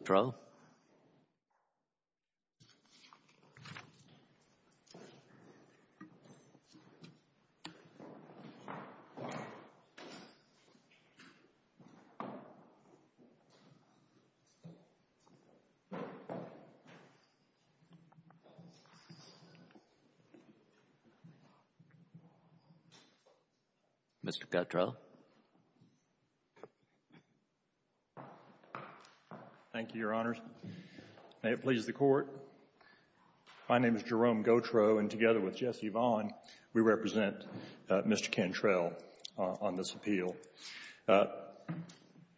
withdrawal. Mr. Gautreaux? Thank you, Your Honors. May it please the Court, my name is Jerome Gautreaux, and together with Jesse Vaughn, we represent Mr. Cantrell on this appeal.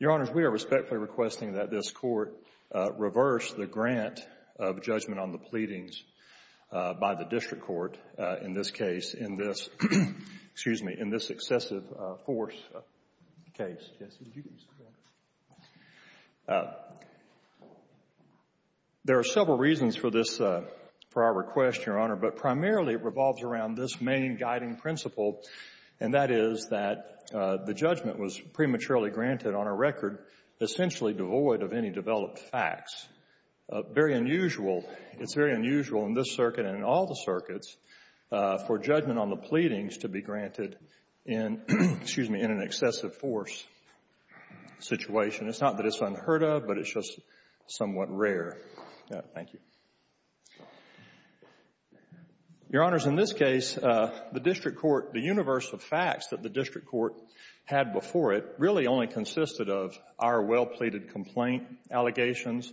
Your Honors, we are respectfully requesting that this Court reverse the grant of judgment on the pleadings by the District Court in this case, in this excessive force case. There are several reasons for our request, Your Honor, but primarily it revolves around this main guiding principle, and that is that the judgment was prematurely granted on a record essentially devoid of any developed facts. Very unusual, it's very unusual in this circuit and in all the circuits for judgment on the pleadings to be granted in an excessive force situation. It's not that it's unheard of, but it's just somewhat rare. Thank you. Your Honors, in this case, the District Court, the universe of facts that the District Court had before it really only consisted of our well-pleaded complaint allegations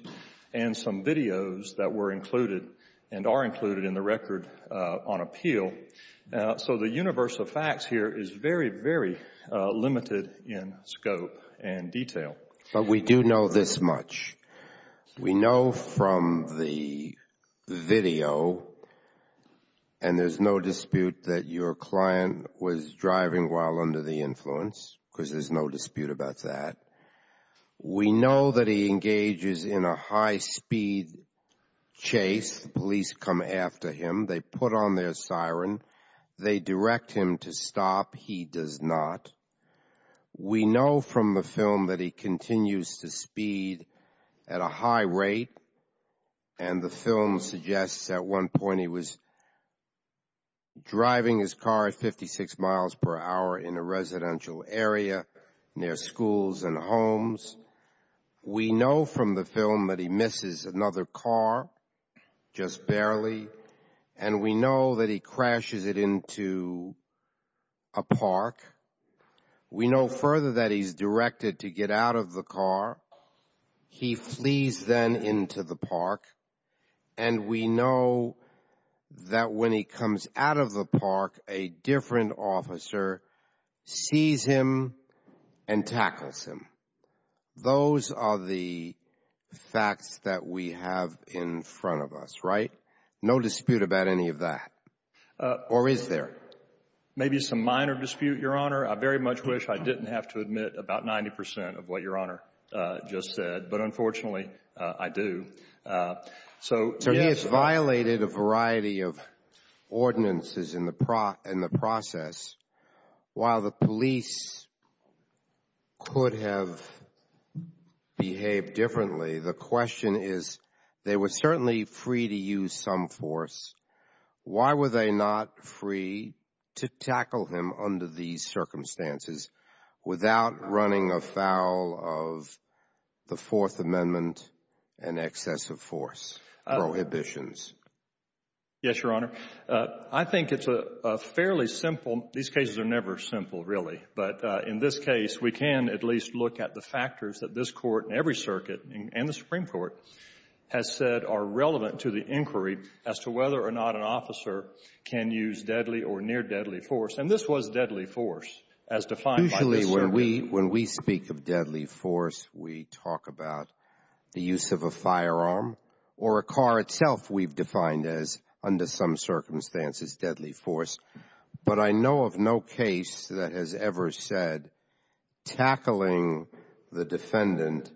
and some videos that were included and are included in the record on appeal. So the universe of facts here is very, very limited in scope and detail. But we do know this much. We know from the video, and there's no dispute that your client was driving while under the influence because there's no dispute about that. We know that he engages in a high-speed chase. Police come after him. They put on their siren. They direct him to stop. He does not. We know from the film that he continues to speed at a high rate. And the film suggests at one point he was driving his car at 56 miles per hour in a residential area near schools and homes. We know from the film that he misses another car, just barely. And we know that he crashes it into a park. We know further that he's directed to get out of the car. He flees then into the park. And we know that when he comes out of the park, a different officer sees him and tackles him. Those are the facts that we have in front of us, right? No dispute about any of that, or is there? Maybe some minor dispute, Your Honor. I very much wish I didn't have to admit about 90 percent of what Your Honor just said. But unfortunately, I do. So, yes. So he has violated a variety of ordinances in the process. While the police could have behaved differently, the question is, they were certainly free to use some force. Why were they not free to tackle him under these circumstances without running afoul of the Fourth Amendment and excessive force prohibitions? Yes, Your Honor. I think it's a fairly simple, these cases are never simple, really. But in this case, we can at least look at the factors that this Court and every circuit and the Supreme Court has said are relevant to the inquiry as to whether or not an officer can use deadly or near-deadly force. And this was deadly force as defined by the circuit. Usually, when we speak of deadly force, we talk about the use of a firearm or a car itself we've defined as, under some circumstances, deadly force. But I know of no case that has ever said tackling the defendant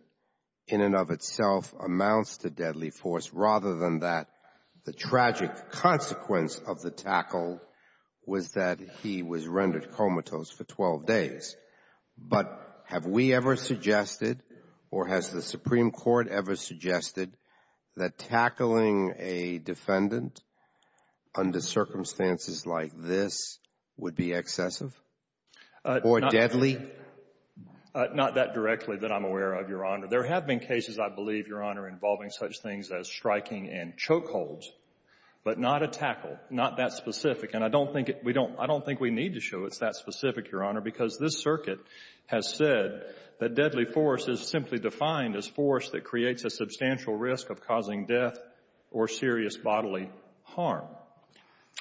in and of itself amounts to deadly force, rather than that the tragic consequence of the tackle was that he was rendered comatose for 12 days. But have we ever suggested, or has the Supreme Court ever suggested, that tackling a defendant under circumstances like this would be excessive or deadly? Not that directly that I'm aware of, Your Honor. There have been cases, I believe, Your Honor, involving such things as striking and choke holds, but not a tackle, not that specific. And I don't think we need to show it's that specific, Your Honor, because this circuit has said that deadly force is simply defined as force that creates a substantial risk of causing death or serious bodily harm.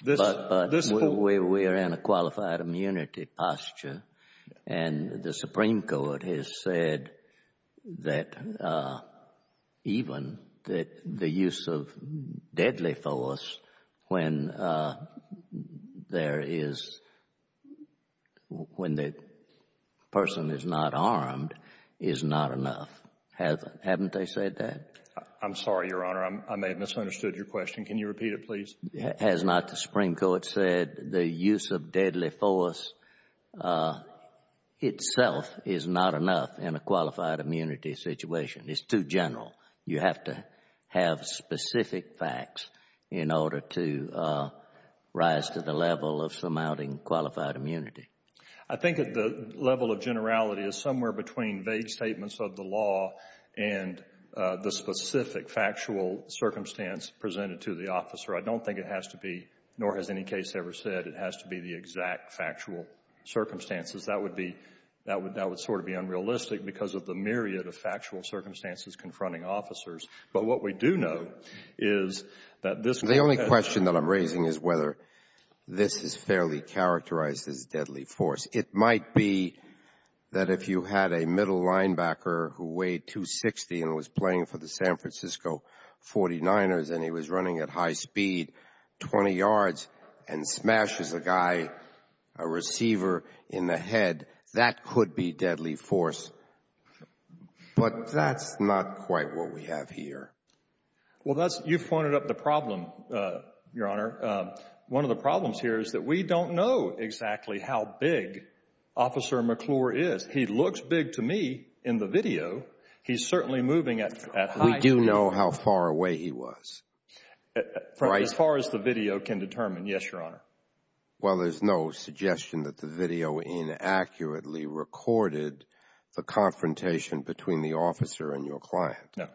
But we are in a qualified immunity posture, and the Supreme Court has said that even the use of deadly force when there is, when the person is not armed, is not enough. Haven't they said that? I'm sorry, Your Honor, I may have misunderstood your question. Can you repeat it, please? Has not the Supreme Court said the use of deadly force itself is not enough in a qualified immunity situation? It's too general. You have to have specific facts in order to rise to the level of surmounting qualified immunity. I think that the level of generality is somewhere between vague statements of the law and the specific factual circumstance presented to the officer. I don't think it has to be, nor has any case ever said, it has to be the exact factual circumstances. That would be — that would sort of be unrealistic because of the myriad of factual circumstances confronting officers. But what we do know is that this — The only question that I'm raising is whether this is fairly characterized as deadly force. It might be that if you had a middle linebacker who weighed 260 and was playing for the San Francisco 49ers and he was running at high speed, 20 yards, and smashes a guy, a receiver, in the head, that could be deadly force. But that's not quite what we have here. Well, that's — you've pointed up the problem, Your Honor. One of the problems here is that we don't know exactly how big Officer McClure is. He looks big to me in the video. He's certainly moving at high speed. We do know how far away he was, right? As far as the video can determine, yes, Your Honor. Well, there's no suggestion that the video inaccurately recorded the confrontation between the officer and your client. No.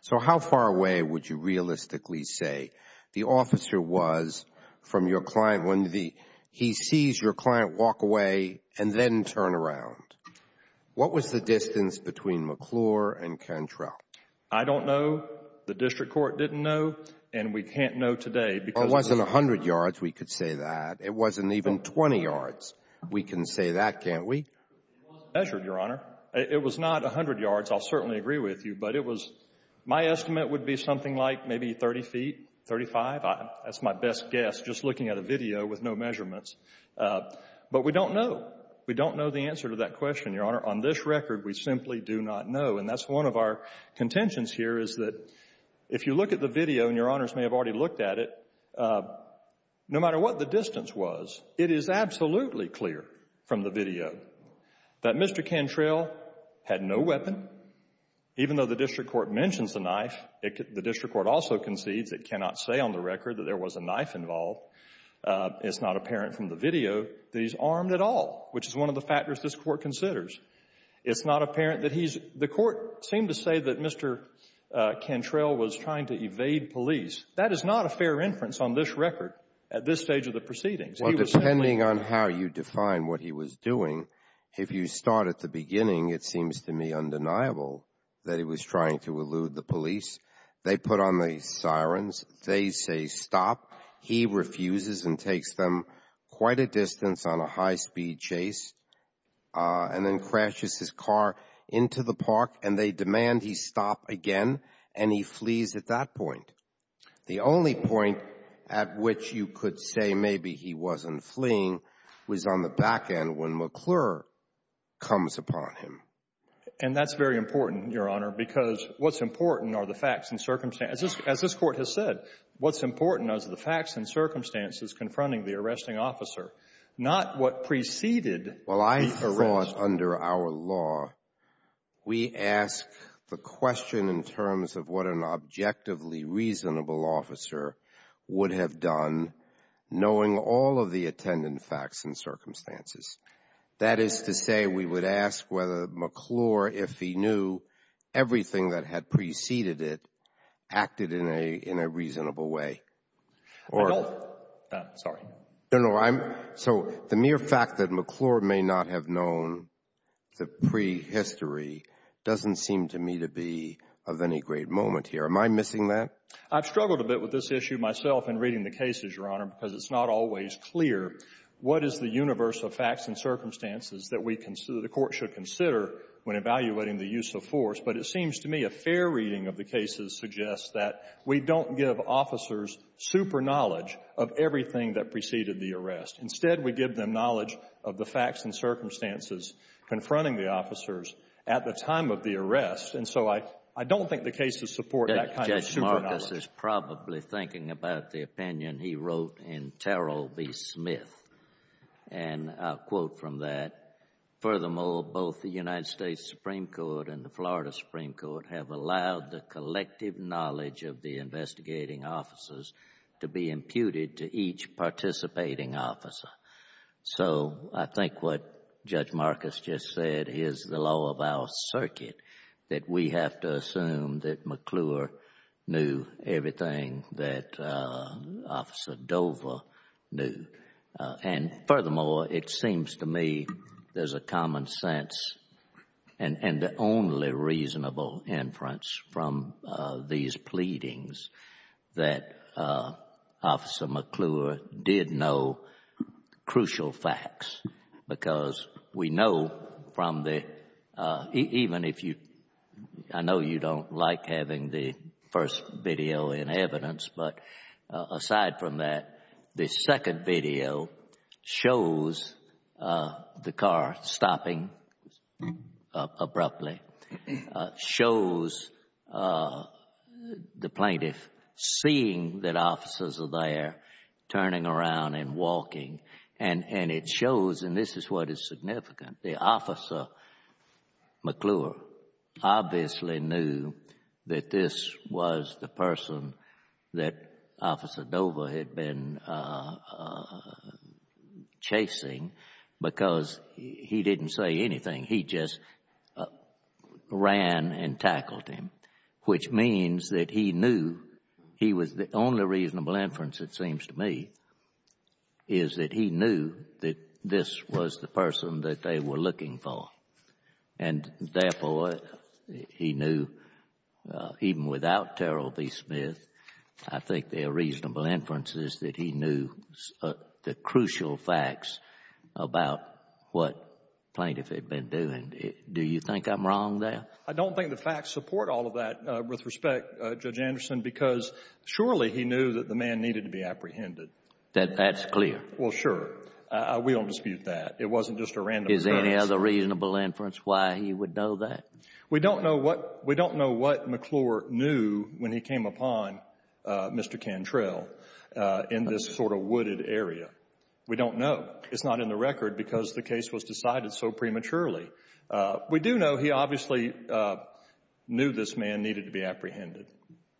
So how far away would you realistically say the officer was from your client when he sees your client walk away and then turn around? What was the distance between McClure and Cantrell? I don't know. The district court didn't know. And we can't know today because — It wasn't 100 yards we could say that. It wasn't even 20 yards. We can say that, can't we? It wasn't measured, Your Honor. It was not 100 yards. I'll certainly agree with you. But it was — my estimate would be something like maybe 30 feet, 35. That's my best guess, just looking at a video with no measurements. But we don't know. We don't know the answer to that question, Your Honor. On this record, we simply do not know. And that's one of our contentions here, is that if you look at the video, and Your Honors may have already looked at it, no matter what the distance was, it is absolutely clear from the video that Mr. Cantrell had no weapon. Even though the district court mentions the knife, the district court also concedes it cannot say on the record that there was a knife involved. It's not apparent from the video that he's armed at all, which is one of the factors this Court considers. It's not apparent that he's — the Court seemed to say that Mr. Cantrell was trying to evade police. That is not a fair inference on this record at this stage of the proceedings. He was simply — Well, depending on how you define what he was doing, if you start at the beginning, it seems to me undeniable that he was trying to elude the police. They put on the sirens. They say, stop. He refuses and takes them quite a distance on a high-speed chase, and then crashes his car into the park, and they demand he stop again, and he flees at that point. The only point at which you could say maybe he wasn't fleeing was on the back end when McClure comes upon him. And that's very important, Your Honor, because what's important are the facts and circumstances. As this Court has said, what's important are the facts and circumstances confronting the arresting officer, not what preceded the arrest. Well, I thought under our law, we ask the question in terms of what an objectively reasonable officer would have done knowing all of the attendant facts and circumstances. That is to say, we would ask whether McClure, if he knew everything that had preceded it, acted in a reasonable way. I don't – sorry. No, no. So the mere fact that McClure may not have known the prehistory doesn't seem to me to be of any great moment here. Am I missing that? I've struggled a bit with this issue myself in reading the cases, Your Honor, because it's not always clear what is the universe of facts and circumstances that we consider the Court should consider when evaluating the use of force. But it seems to me a fair reading of the cases suggests that we don't give officers super-knowledge of everything that preceded the arrest. Instead, we give them knowledge of the facts and circumstances confronting the officers at the time of the arrest. And so I don't think the cases support that kind of super-knowledge. Judge Marcus is probably thinking about the opinion he wrote in Terrell v. Smith. And I'll quote from that. Furthermore, both the United States Supreme Court and the Florida Supreme Court have allowed the collective knowledge of the investigating officers to be imputed to each participating officer. So I think what Judge Marcus just said is the law of our circuit, that we have to assume that McClure knew everything that Officer Dover knew. And furthermore, it seems to me there's a common sense and the only reasonable inference from these pleadings that Officer McClure did know crucial facts. Because we know from the, even if you, I know you don't like having the first video in shows the car stopping abruptly, shows the plaintiff seeing that officers are there turning around and walking. And it shows, and this is what is significant, the officer, McClure, obviously knew that this was the person that Officer Dover had been chasing because he didn't say anything. He just ran and tackled him, which means that he knew, he was the only reasonable inference, it seems to me, is that he knew that this was the person that they were looking for. And therefore, he knew, even without Terrell v. Smith, I think there are reasonable inferences that he knew the crucial facts about what the plaintiff had been doing. Do you think I'm wrong there? I don't think the facts support all of that, with respect, Judge Anderson, because surely he knew that the man needed to be apprehended. That's clear. Well, sure. We don't dispute that. It wasn't just a random occurrence. Is there any other reasonable inference why he would know that? We don't know what McClure knew when he came upon Mr. Cantrell in this sort of wooded area. We don't know. It's not in the record because the case was decided so prematurely. We do know he obviously knew this man needed to be apprehended.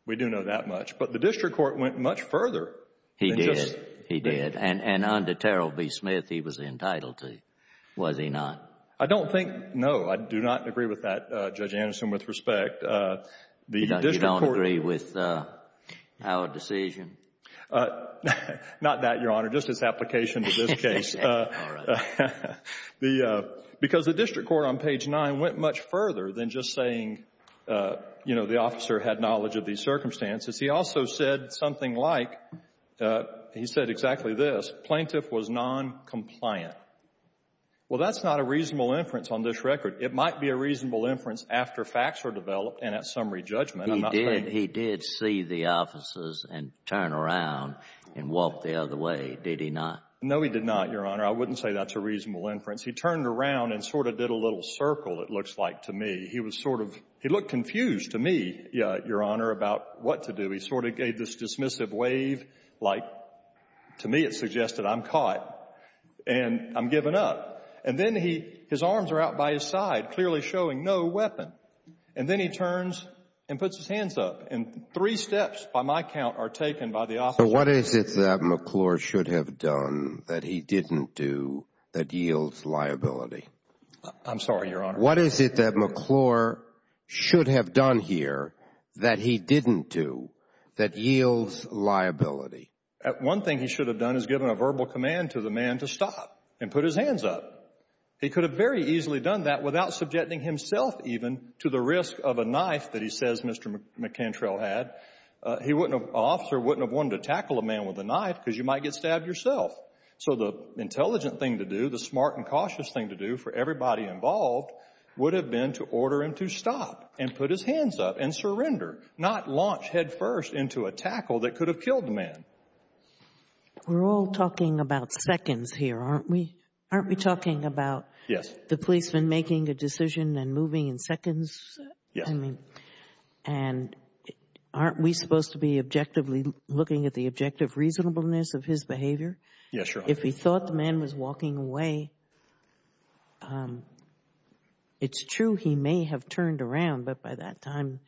We do know that much. But the district court went much further. He did. He did. And under Terrell v. Smith, he was entitled to. Was he not? I don't think no. I do not agree with that, Judge Anderson, with respect. You don't agree with our decision? Not that, Your Honor. Just his application to this case. All right. Because the district court on page 9 went much further than just saying, you know, the officer had knowledge of these circumstances. He also said something like, he said exactly this, plaintiff was noncompliant. Well, that's not a reasonable inference on this record. It might be a reasonable inference after facts were developed and at summary judgment. He did. He did see the officers and turn around and walk the other way, did he not? No, he did not, Your Honor. I wouldn't say that's a reasonable inference. He turned around and sort of did a little circle, it looks like to me. He looked confused to me, Your Honor, about what to do. He sort of gave this dismissive wave, like to me it suggested I'm caught and I'm given up. And then his arms are out by his side, clearly showing no weapon. And then he turns and puts his hands up. And three steps, by my count, are taken by the officer. So what is it that McClure should have done that he didn't do that yields liability? I'm sorry, Your Honor. What is it that McClure should have done here that he didn't do that yields liability? One thing he should have done is given a verbal command to the man to stop and put his hands up. He could have very easily done that without subjecting himself even to the risk of a knife that he says Mr. McCantrell had. An officer wouldn't have wanted to tackle a man with a knife because you might get stabbed yourself. So the intelligent thing to do, the smart and cautious thing to do for everybody involved would have been to order him to stop and put his hands up and surrender, not launch headfirst into a tackle that could have killed the man. We're all talking about seconds here, aren't we? Aren't we talking about the policeman making a decision and moving in seconds? Yes. And aren't we supposed to be objectively looking at the objective reasonableness of his behavior? Yes, Your Honor. If he thought the man was walking away, it's true he may have turned around, but by that time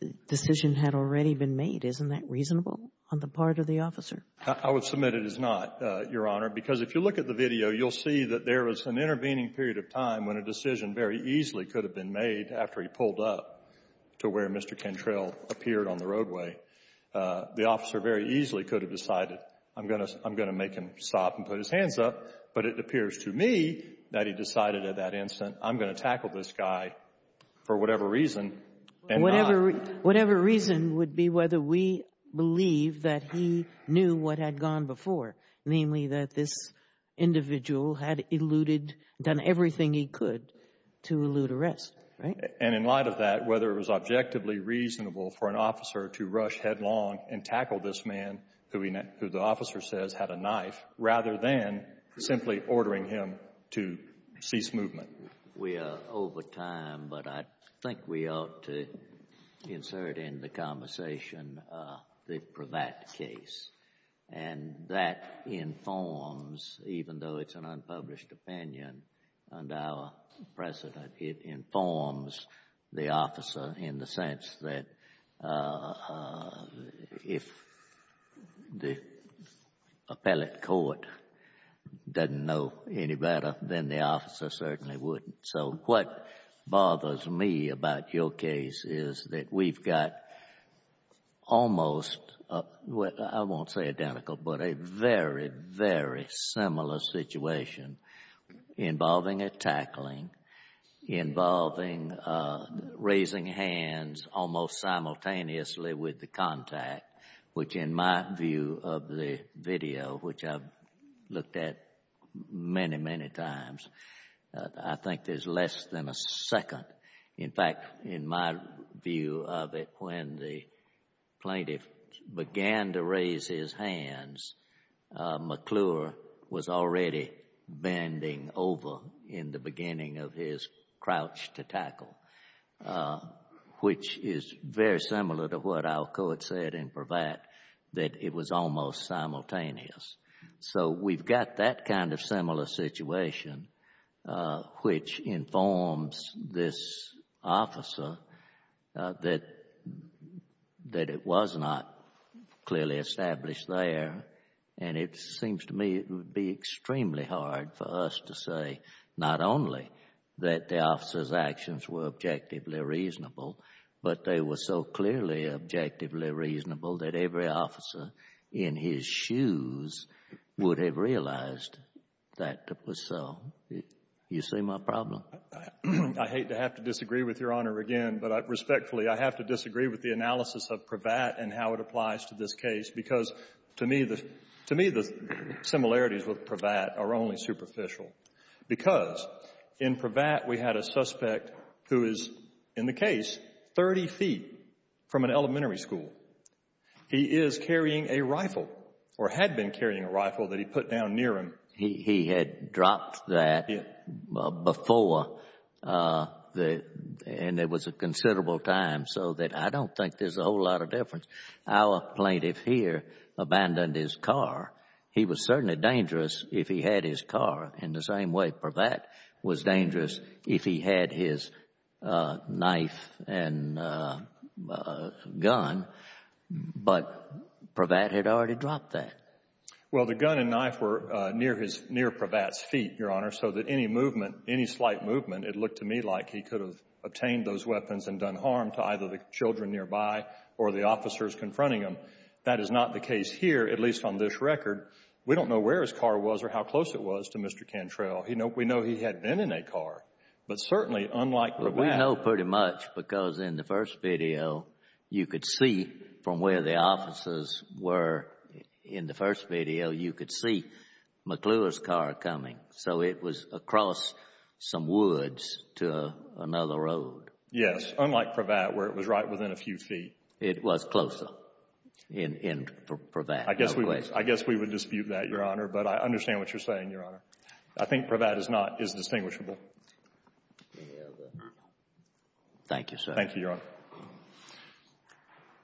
the decision had already been made. Isn't that reasonable on the part of the officer? I would submit it is not, Your Honor, because if you look at the video, you'll see that there was an intervening period of time when a decision very easily could have been made after he pulled up to where Mr. Cantrell appeared on the roadway. The officer very easily could have decided, I'm going to make him stop and put his hands up, but it appears to me that he decided at that instant, I'm going to tackle this guy for whatever reason. Whatever reason would be whether we believe that he knew what had gone before, namely that this individual had eluded, done everything he could to elude arrest, right? And in light of that, whether it was objectively reasonable for an officer to rush headlong and tackle this man, who the officer says had a knife, rather than simply ordering him to cease movement. We are over time, but I think we ought to insert in the conversation the Prevatt case. And that informs, even though it's an unpublished opinion under our precedent, it informs the officer in the sense that if the appellate court doesn't know any better, then the officer certainly wouldn't. So what bothers me about your case is that we've got almost, I won't say identical, but a very, very similar situation involving a tackling, involving raising hands almost simultaneously with the contact, which in my view of the video, which I've looked at many, many times, I think there's less than a second. In fact, in my view of it, when the plaintiff began to raise his hands, McClure was already bending over in the beginning of his crouch to tackle, which is very similar to what our court said in Prevatt that it was almost simultaneous. So we've got that kind of similar situation, which informs this officer that it was not clearly established there, and it seems to me it would be extremely hard for us to say not only that the officer's actions were objectively reasonable, but they were so clearly objectively reasonable that every officer in his shoes would have realized that was so. You see my problem? I hate to have to disagree with Your Honor again, but respectfully, I have to disagree with the analysis of Prevatt and how it applies to this case, because to me the similarities with Prevatt are only superficial. Because in Prevatt, we had a suspect who is, in the case, 30 feet from an elementary school. He is carrying a rifle or had been carrying a rifle that he put down near him. He had dropped that before, and there was a considerable time so that I don't think there's a whole lot of difference. Our plaintiff here abandoned his car. He was certainly dangerous if he had his car in the same way Prevatt was dangerous if he had his knife and gun, but Prevatt had already dropped that. Well, the gun and knife were near Prevatt's feet, Your Honor, so that any movement, any slight movement, it looked to me like he could have obtained those weapons and done harm to either the children nearby or the officers confronting him. That is not the case here, at least on this record. We don't know where his car was or how close it was to Mr. Cantrell. We know he had been in a car, but certainly, unlike Prevatt. We know pretty much because in the first video, you could see from where the officers were in the first video, you could see McClure's car coming. So it was across some woods to another road. Yes, unlike Prevatt, where it was right within a few feet. It was closer. In Prevatt. I guess we would dispute that, Your Honor, but I understand what you're saying, Your Honor. I think Prevatt is not, is distinguishable. Thank you, sir. Thank you, Your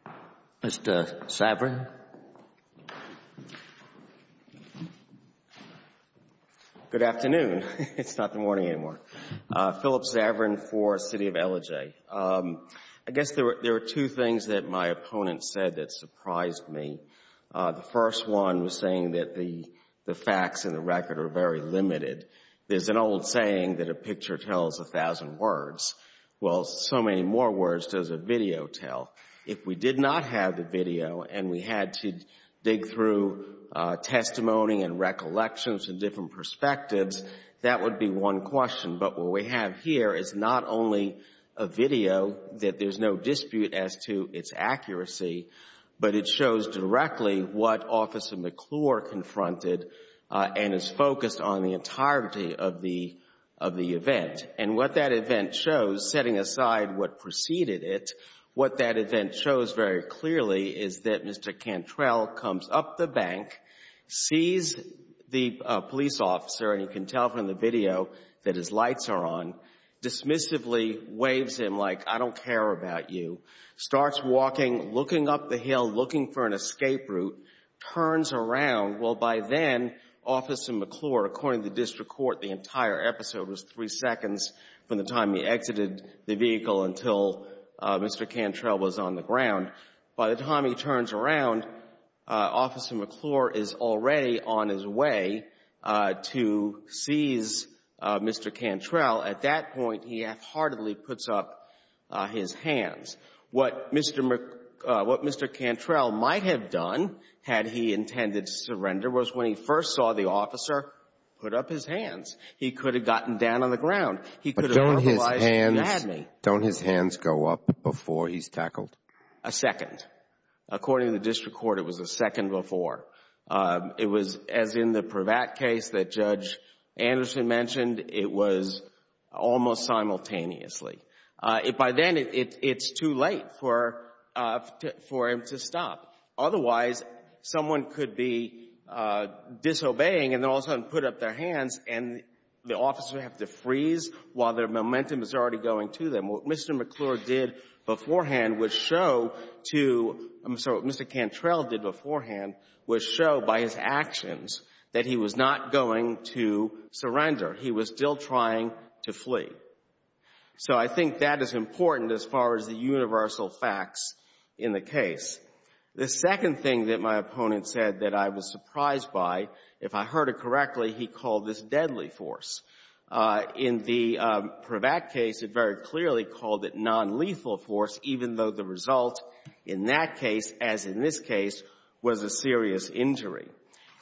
Honor. Mr. Saverin. Good afternoon. It's not the morning anymore. Philip Saverin for City of Ellijay. I guess there are two things that my opponent said that surprised me. The first one was saying that the facts in the record are very limited. There's an old saying that a picture tells a thousand words. Well, so many more words does a video tell. If we did not have the video and we had to dig through testimony and recollections and different perspectives, that would be one question. But what we have here is not only a video that there's no dispute as to its accuracy, but it shows directly what Officer McClure confronted and is focused on the entirety of the event. And what that event shows, setting aside what preceded it, what that event shows very clearly is that Mr. Cantrell comes up the bank, sees the police officer, and you can tell from the video that his lights are on, dismissively waves him like, I don't care about you. Starts walking, looking up the hill, looking for an escape route, turns around. Well, by then, Officer McClure, according to the district court, the entire episode was three seconds from the time he exited the vehicle until Mr. Cantrell was on the ground. By the time he turns around, Officer McClure is already on his way to seize Mr. Cantrell. At that point, he half-heartedly puts up his hands. What Mr. McClure — what Mr. Cantrell might have done had he intended to surrender was when he first saw the officer, put up his hands. He could have gotten down on the ground. He could have verbalized, you had me. Don't his hands go up before he's tackled? A second. According to the district court, it was a second before. It was, as in the Prevatt case that Judge Anderson mentioned, it was almost simultaneously. By then, it's too late for him to stop. Otherwise, someone could be disobeying and then all of a sudden put up their hands, and the officer would have to freeze while their momentum is already going to them. What Mr. McClure did beforehand would show to — I'm sorry, what Mr. Cantrell did beforehand would show by his actions that he was not going to surrender. He was still trying to flee. So I think that is important as far as the universal facts in the case. The second thing that my opponent said that I was surprised by, if I heard it correctly, he called this deadly force. In the Prevatt case, it very clearly called it nonlethal force, even though the result in that case, as in this case, was a serious injury.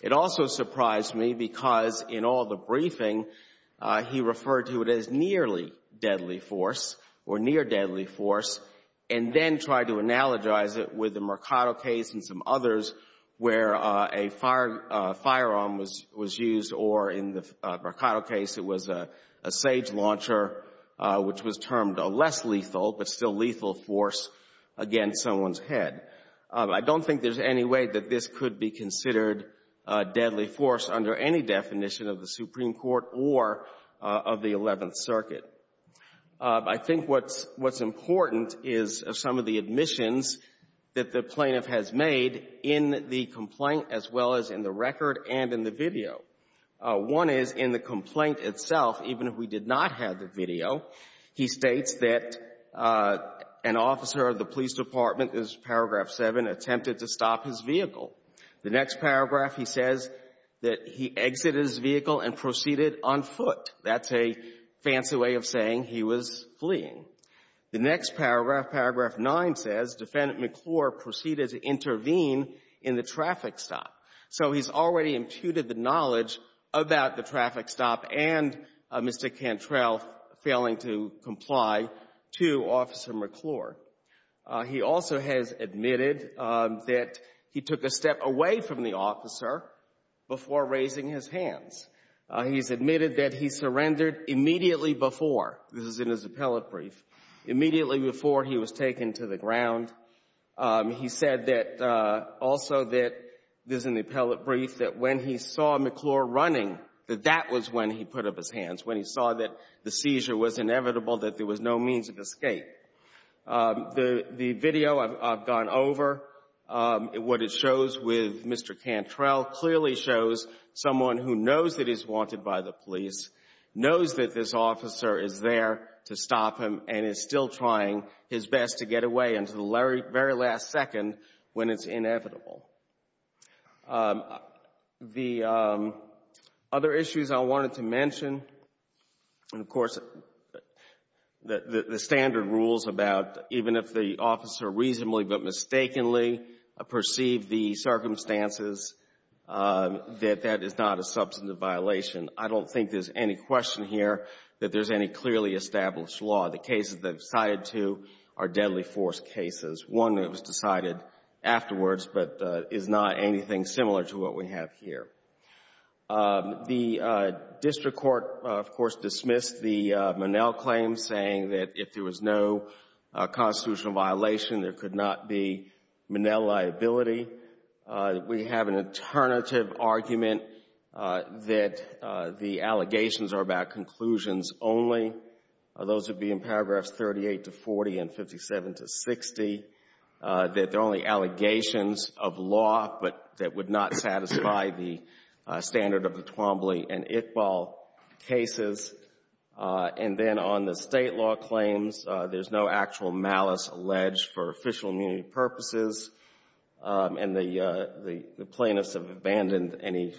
It also surprised me because in all the briefing, he referred to it as nearly deadly force or near deadly force, and then tried to analogize it with the Mercado case and some others where a firearm was used or, in the Mercado case, it was a sage launcher, which was termed a less lethal but still lethal force against someone's head. I don't think there's any way that this could be considered deadly force under any definition of the Supreme Court or of the Eleventh Circuit. I think what's important is some of the admissions that the plaintiff has made in the complaint as well as in the record and in the video. One is in the complaint itself, even if we did not have the video, he states that an officer of the police department, in paragraph 7, attempted to stop his vehicle. The next paragraph, he says that he exited his vehicle and proceeded on foot. That's a fancy way of saying he was fleeing. The next paragraph, paragraph 9, says, Defendant McClure proceeded to intervene in the traffic stop. So he's already imputed the knowledge about the traffic stop and Mr. Cantrell failing to comply to Officer McClure. He also has admitted that he took a step away from the officer before raising his hands. He's admitted that he surrendered immediately before, this is in his appellate brief, immediately before he was taken to the ground. He said that, also that, this is in the appellate brief, that when he saw McClure running, that that was when he put up his hands, when he saw that the seizure was inevitable, that there was no means of escape. The video I've gone over, what it shows with Mr. Cantrell, clearly shows someone who knows that he's wanted by the police, knows that this officer is there to stop him, and is still trying his best to get away until the very last second when it's inevitable. The other issues I wanted to mention, and, of course, the standard rules about even if the officer reasonably but mistakenly perceived the circumstances that that is not a substantive violation. I don't think there's any question here that there's any clearly established law. The cases that I've cited to are deadly force cases. One that was decided afterwards, but is not anything similar to what we have here. The district court, of course, dismissed the Monell claims, saying that if there was no constitutional violation, there could not be Monell liability. We have an alternative argument that the allegations are about conclusions only. Those would be in paragraphs 38 to 40 and 57 to 60, that they're only allegations of law, but that would not satisfy the standard of the Twombly and Iqbal cases. And then on the State law claims, there's no actual malice alleged for official immunity purposes. And the plaintiffs have abandoned any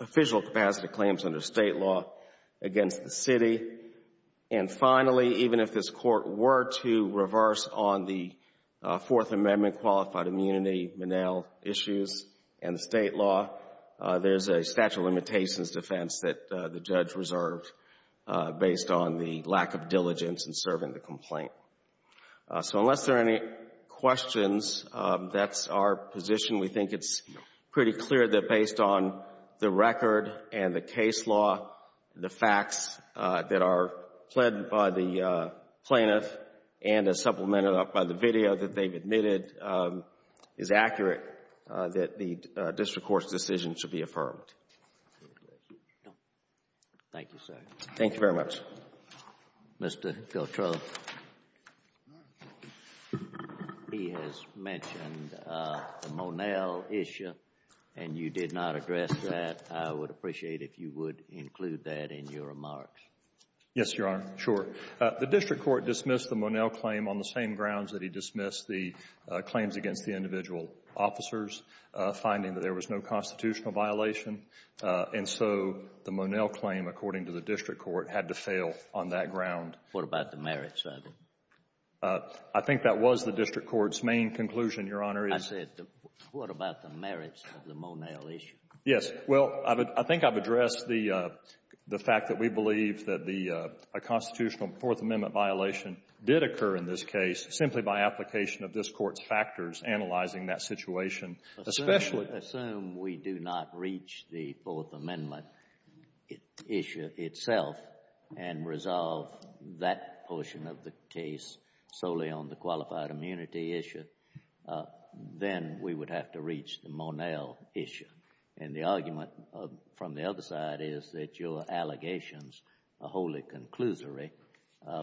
official capacity claims under State law against the city. And finally, even if this Court were to reverse on the Fourth Amendment qualified immunity, Monell issues, and the State law, there's a statute of limitations defense that the judge reserved based on the lack of diligence in serving the complaint. So unless there are any questions, that's our position. We think it's pretty clear that based on the record and the case law, the facts that are pled by the plaintiff and as supplemented up by the video that they've admitted is accurate that the district court's decision should be affirmed. Thank you, sir. Thank you very much. Mr. Filtrow, he has mentioned the Monell issue and you did not address that. I would appreciate if you would include that in your remarks. Yes, Your Honor. Sure. The district court dismissed the Monell claim on the same grounds that he dismissed the claims against the individual officers, finding that there was no constitutional violation. And so the Monell claim, according to the district court, had to fail on that ground. What about the merits of it? I think that was the district court's main conclusion, Your Honor. I said, what about the merits of the Monell issue? Yes. Well, I think I've addressed the fact that we believe that the constitutional Fourth Amendment violation did occur in this case simply by application of this court's factors analyzing that situation. Assume we do not reach the Fourth Amendment issue itself and resolve that portion of the case solely on the qualified immunity issue, then we would have to reach the Monell issue. And the argument from the other side is that your allegations are wholly conclusory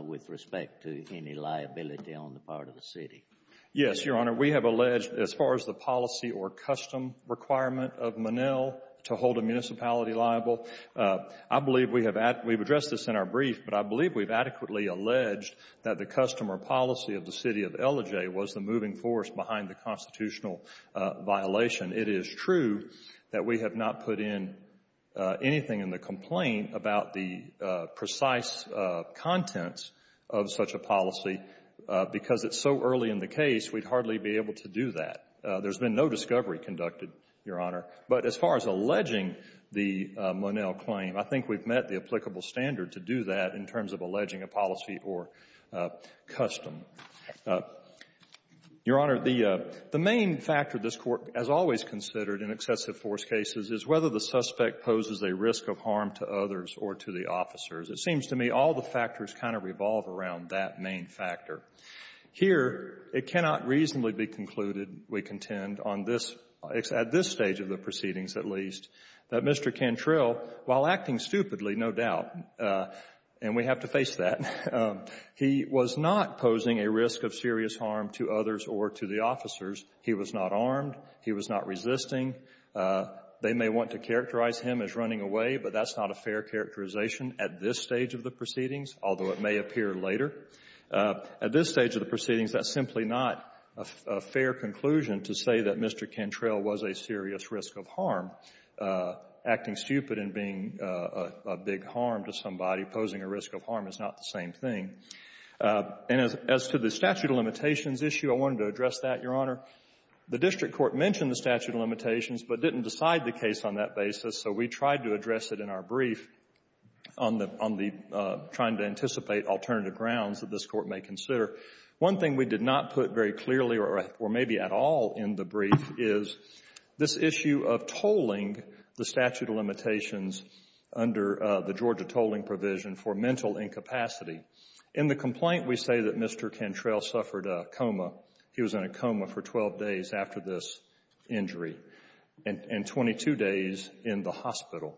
with respect to any liability on the part of the city. Yes, Your Honor. We have alleged, as far as the policy or custom requirement of Monell to hold a municipality liable, I believe we have addressed this in our brief, but I believe we've adequately alleged that the custom or policy of the city of Ellijay was the moving force behind the constitutional violation. It is true that we have not put in anything in the complaint about the precise contents of such a policy because it's so early in the case we'd hardly be able to do that. There's been no discovery conducted, Your Honor. But as far as alleging the Monell claim, I think we've met the applicable standard to do that in terms of alleging a policy or custom. Your Honor, the main factor this Court has always considered in excessive force cases is whether the suspect poses a risk of harm to others or to the officers. It seems to me all the factors kind of revolve around that main factor. Here, it cannot reasonably be concluded, we contend, on this stage of the proceedings, at least, that Mr. Cantrell, while acting stupidly, no doubt, and we have to face that, he was not posing a risk of serious harm to others or to the officers. He was not armed. He was not resisting. They may want to characterize him as running away, but that's not a fair characterization at this stage of the proceedings, although it may appear later. At this stage of the proceedings, that's simply not a fair conclusion to say that Mr. Cantrell was a serious risk of harm. Acting stupid and being a big harm to somebody, posing a risk of harm, is not the same thing. And as to the statute of limitations issue, I wanted to address that, Your Honor. The district court mentioned the statute of limitations but didn't decide the case on that basis, so we tried to address it in our brief. On the trying to anticipate alternative grounds that this Court may consider, one thing we did not put very clearly or maybe at all in the brief is this issue of tolling the statute of limitations under the Georgia tolling provision for mental incapacity. In the complaint, we say that Mr. Cantrell suffered a coma. He was in a coma for 12 days after this injury and 22 days in the hospital.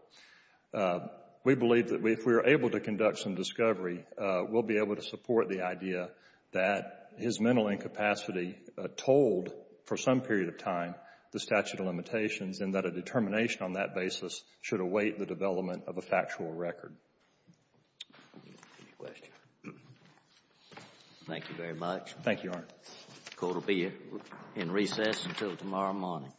We believe that if we are able to conduct some discovery, we'll be able to support the idea that his mental incapacity tolled for some period of time the statute of limitations and that a determination on that basis should await the development of a factual record. Any questions? Thank you very much. Thank you, Your Honor. The Court will be in recess until tomorrow morning. All rise.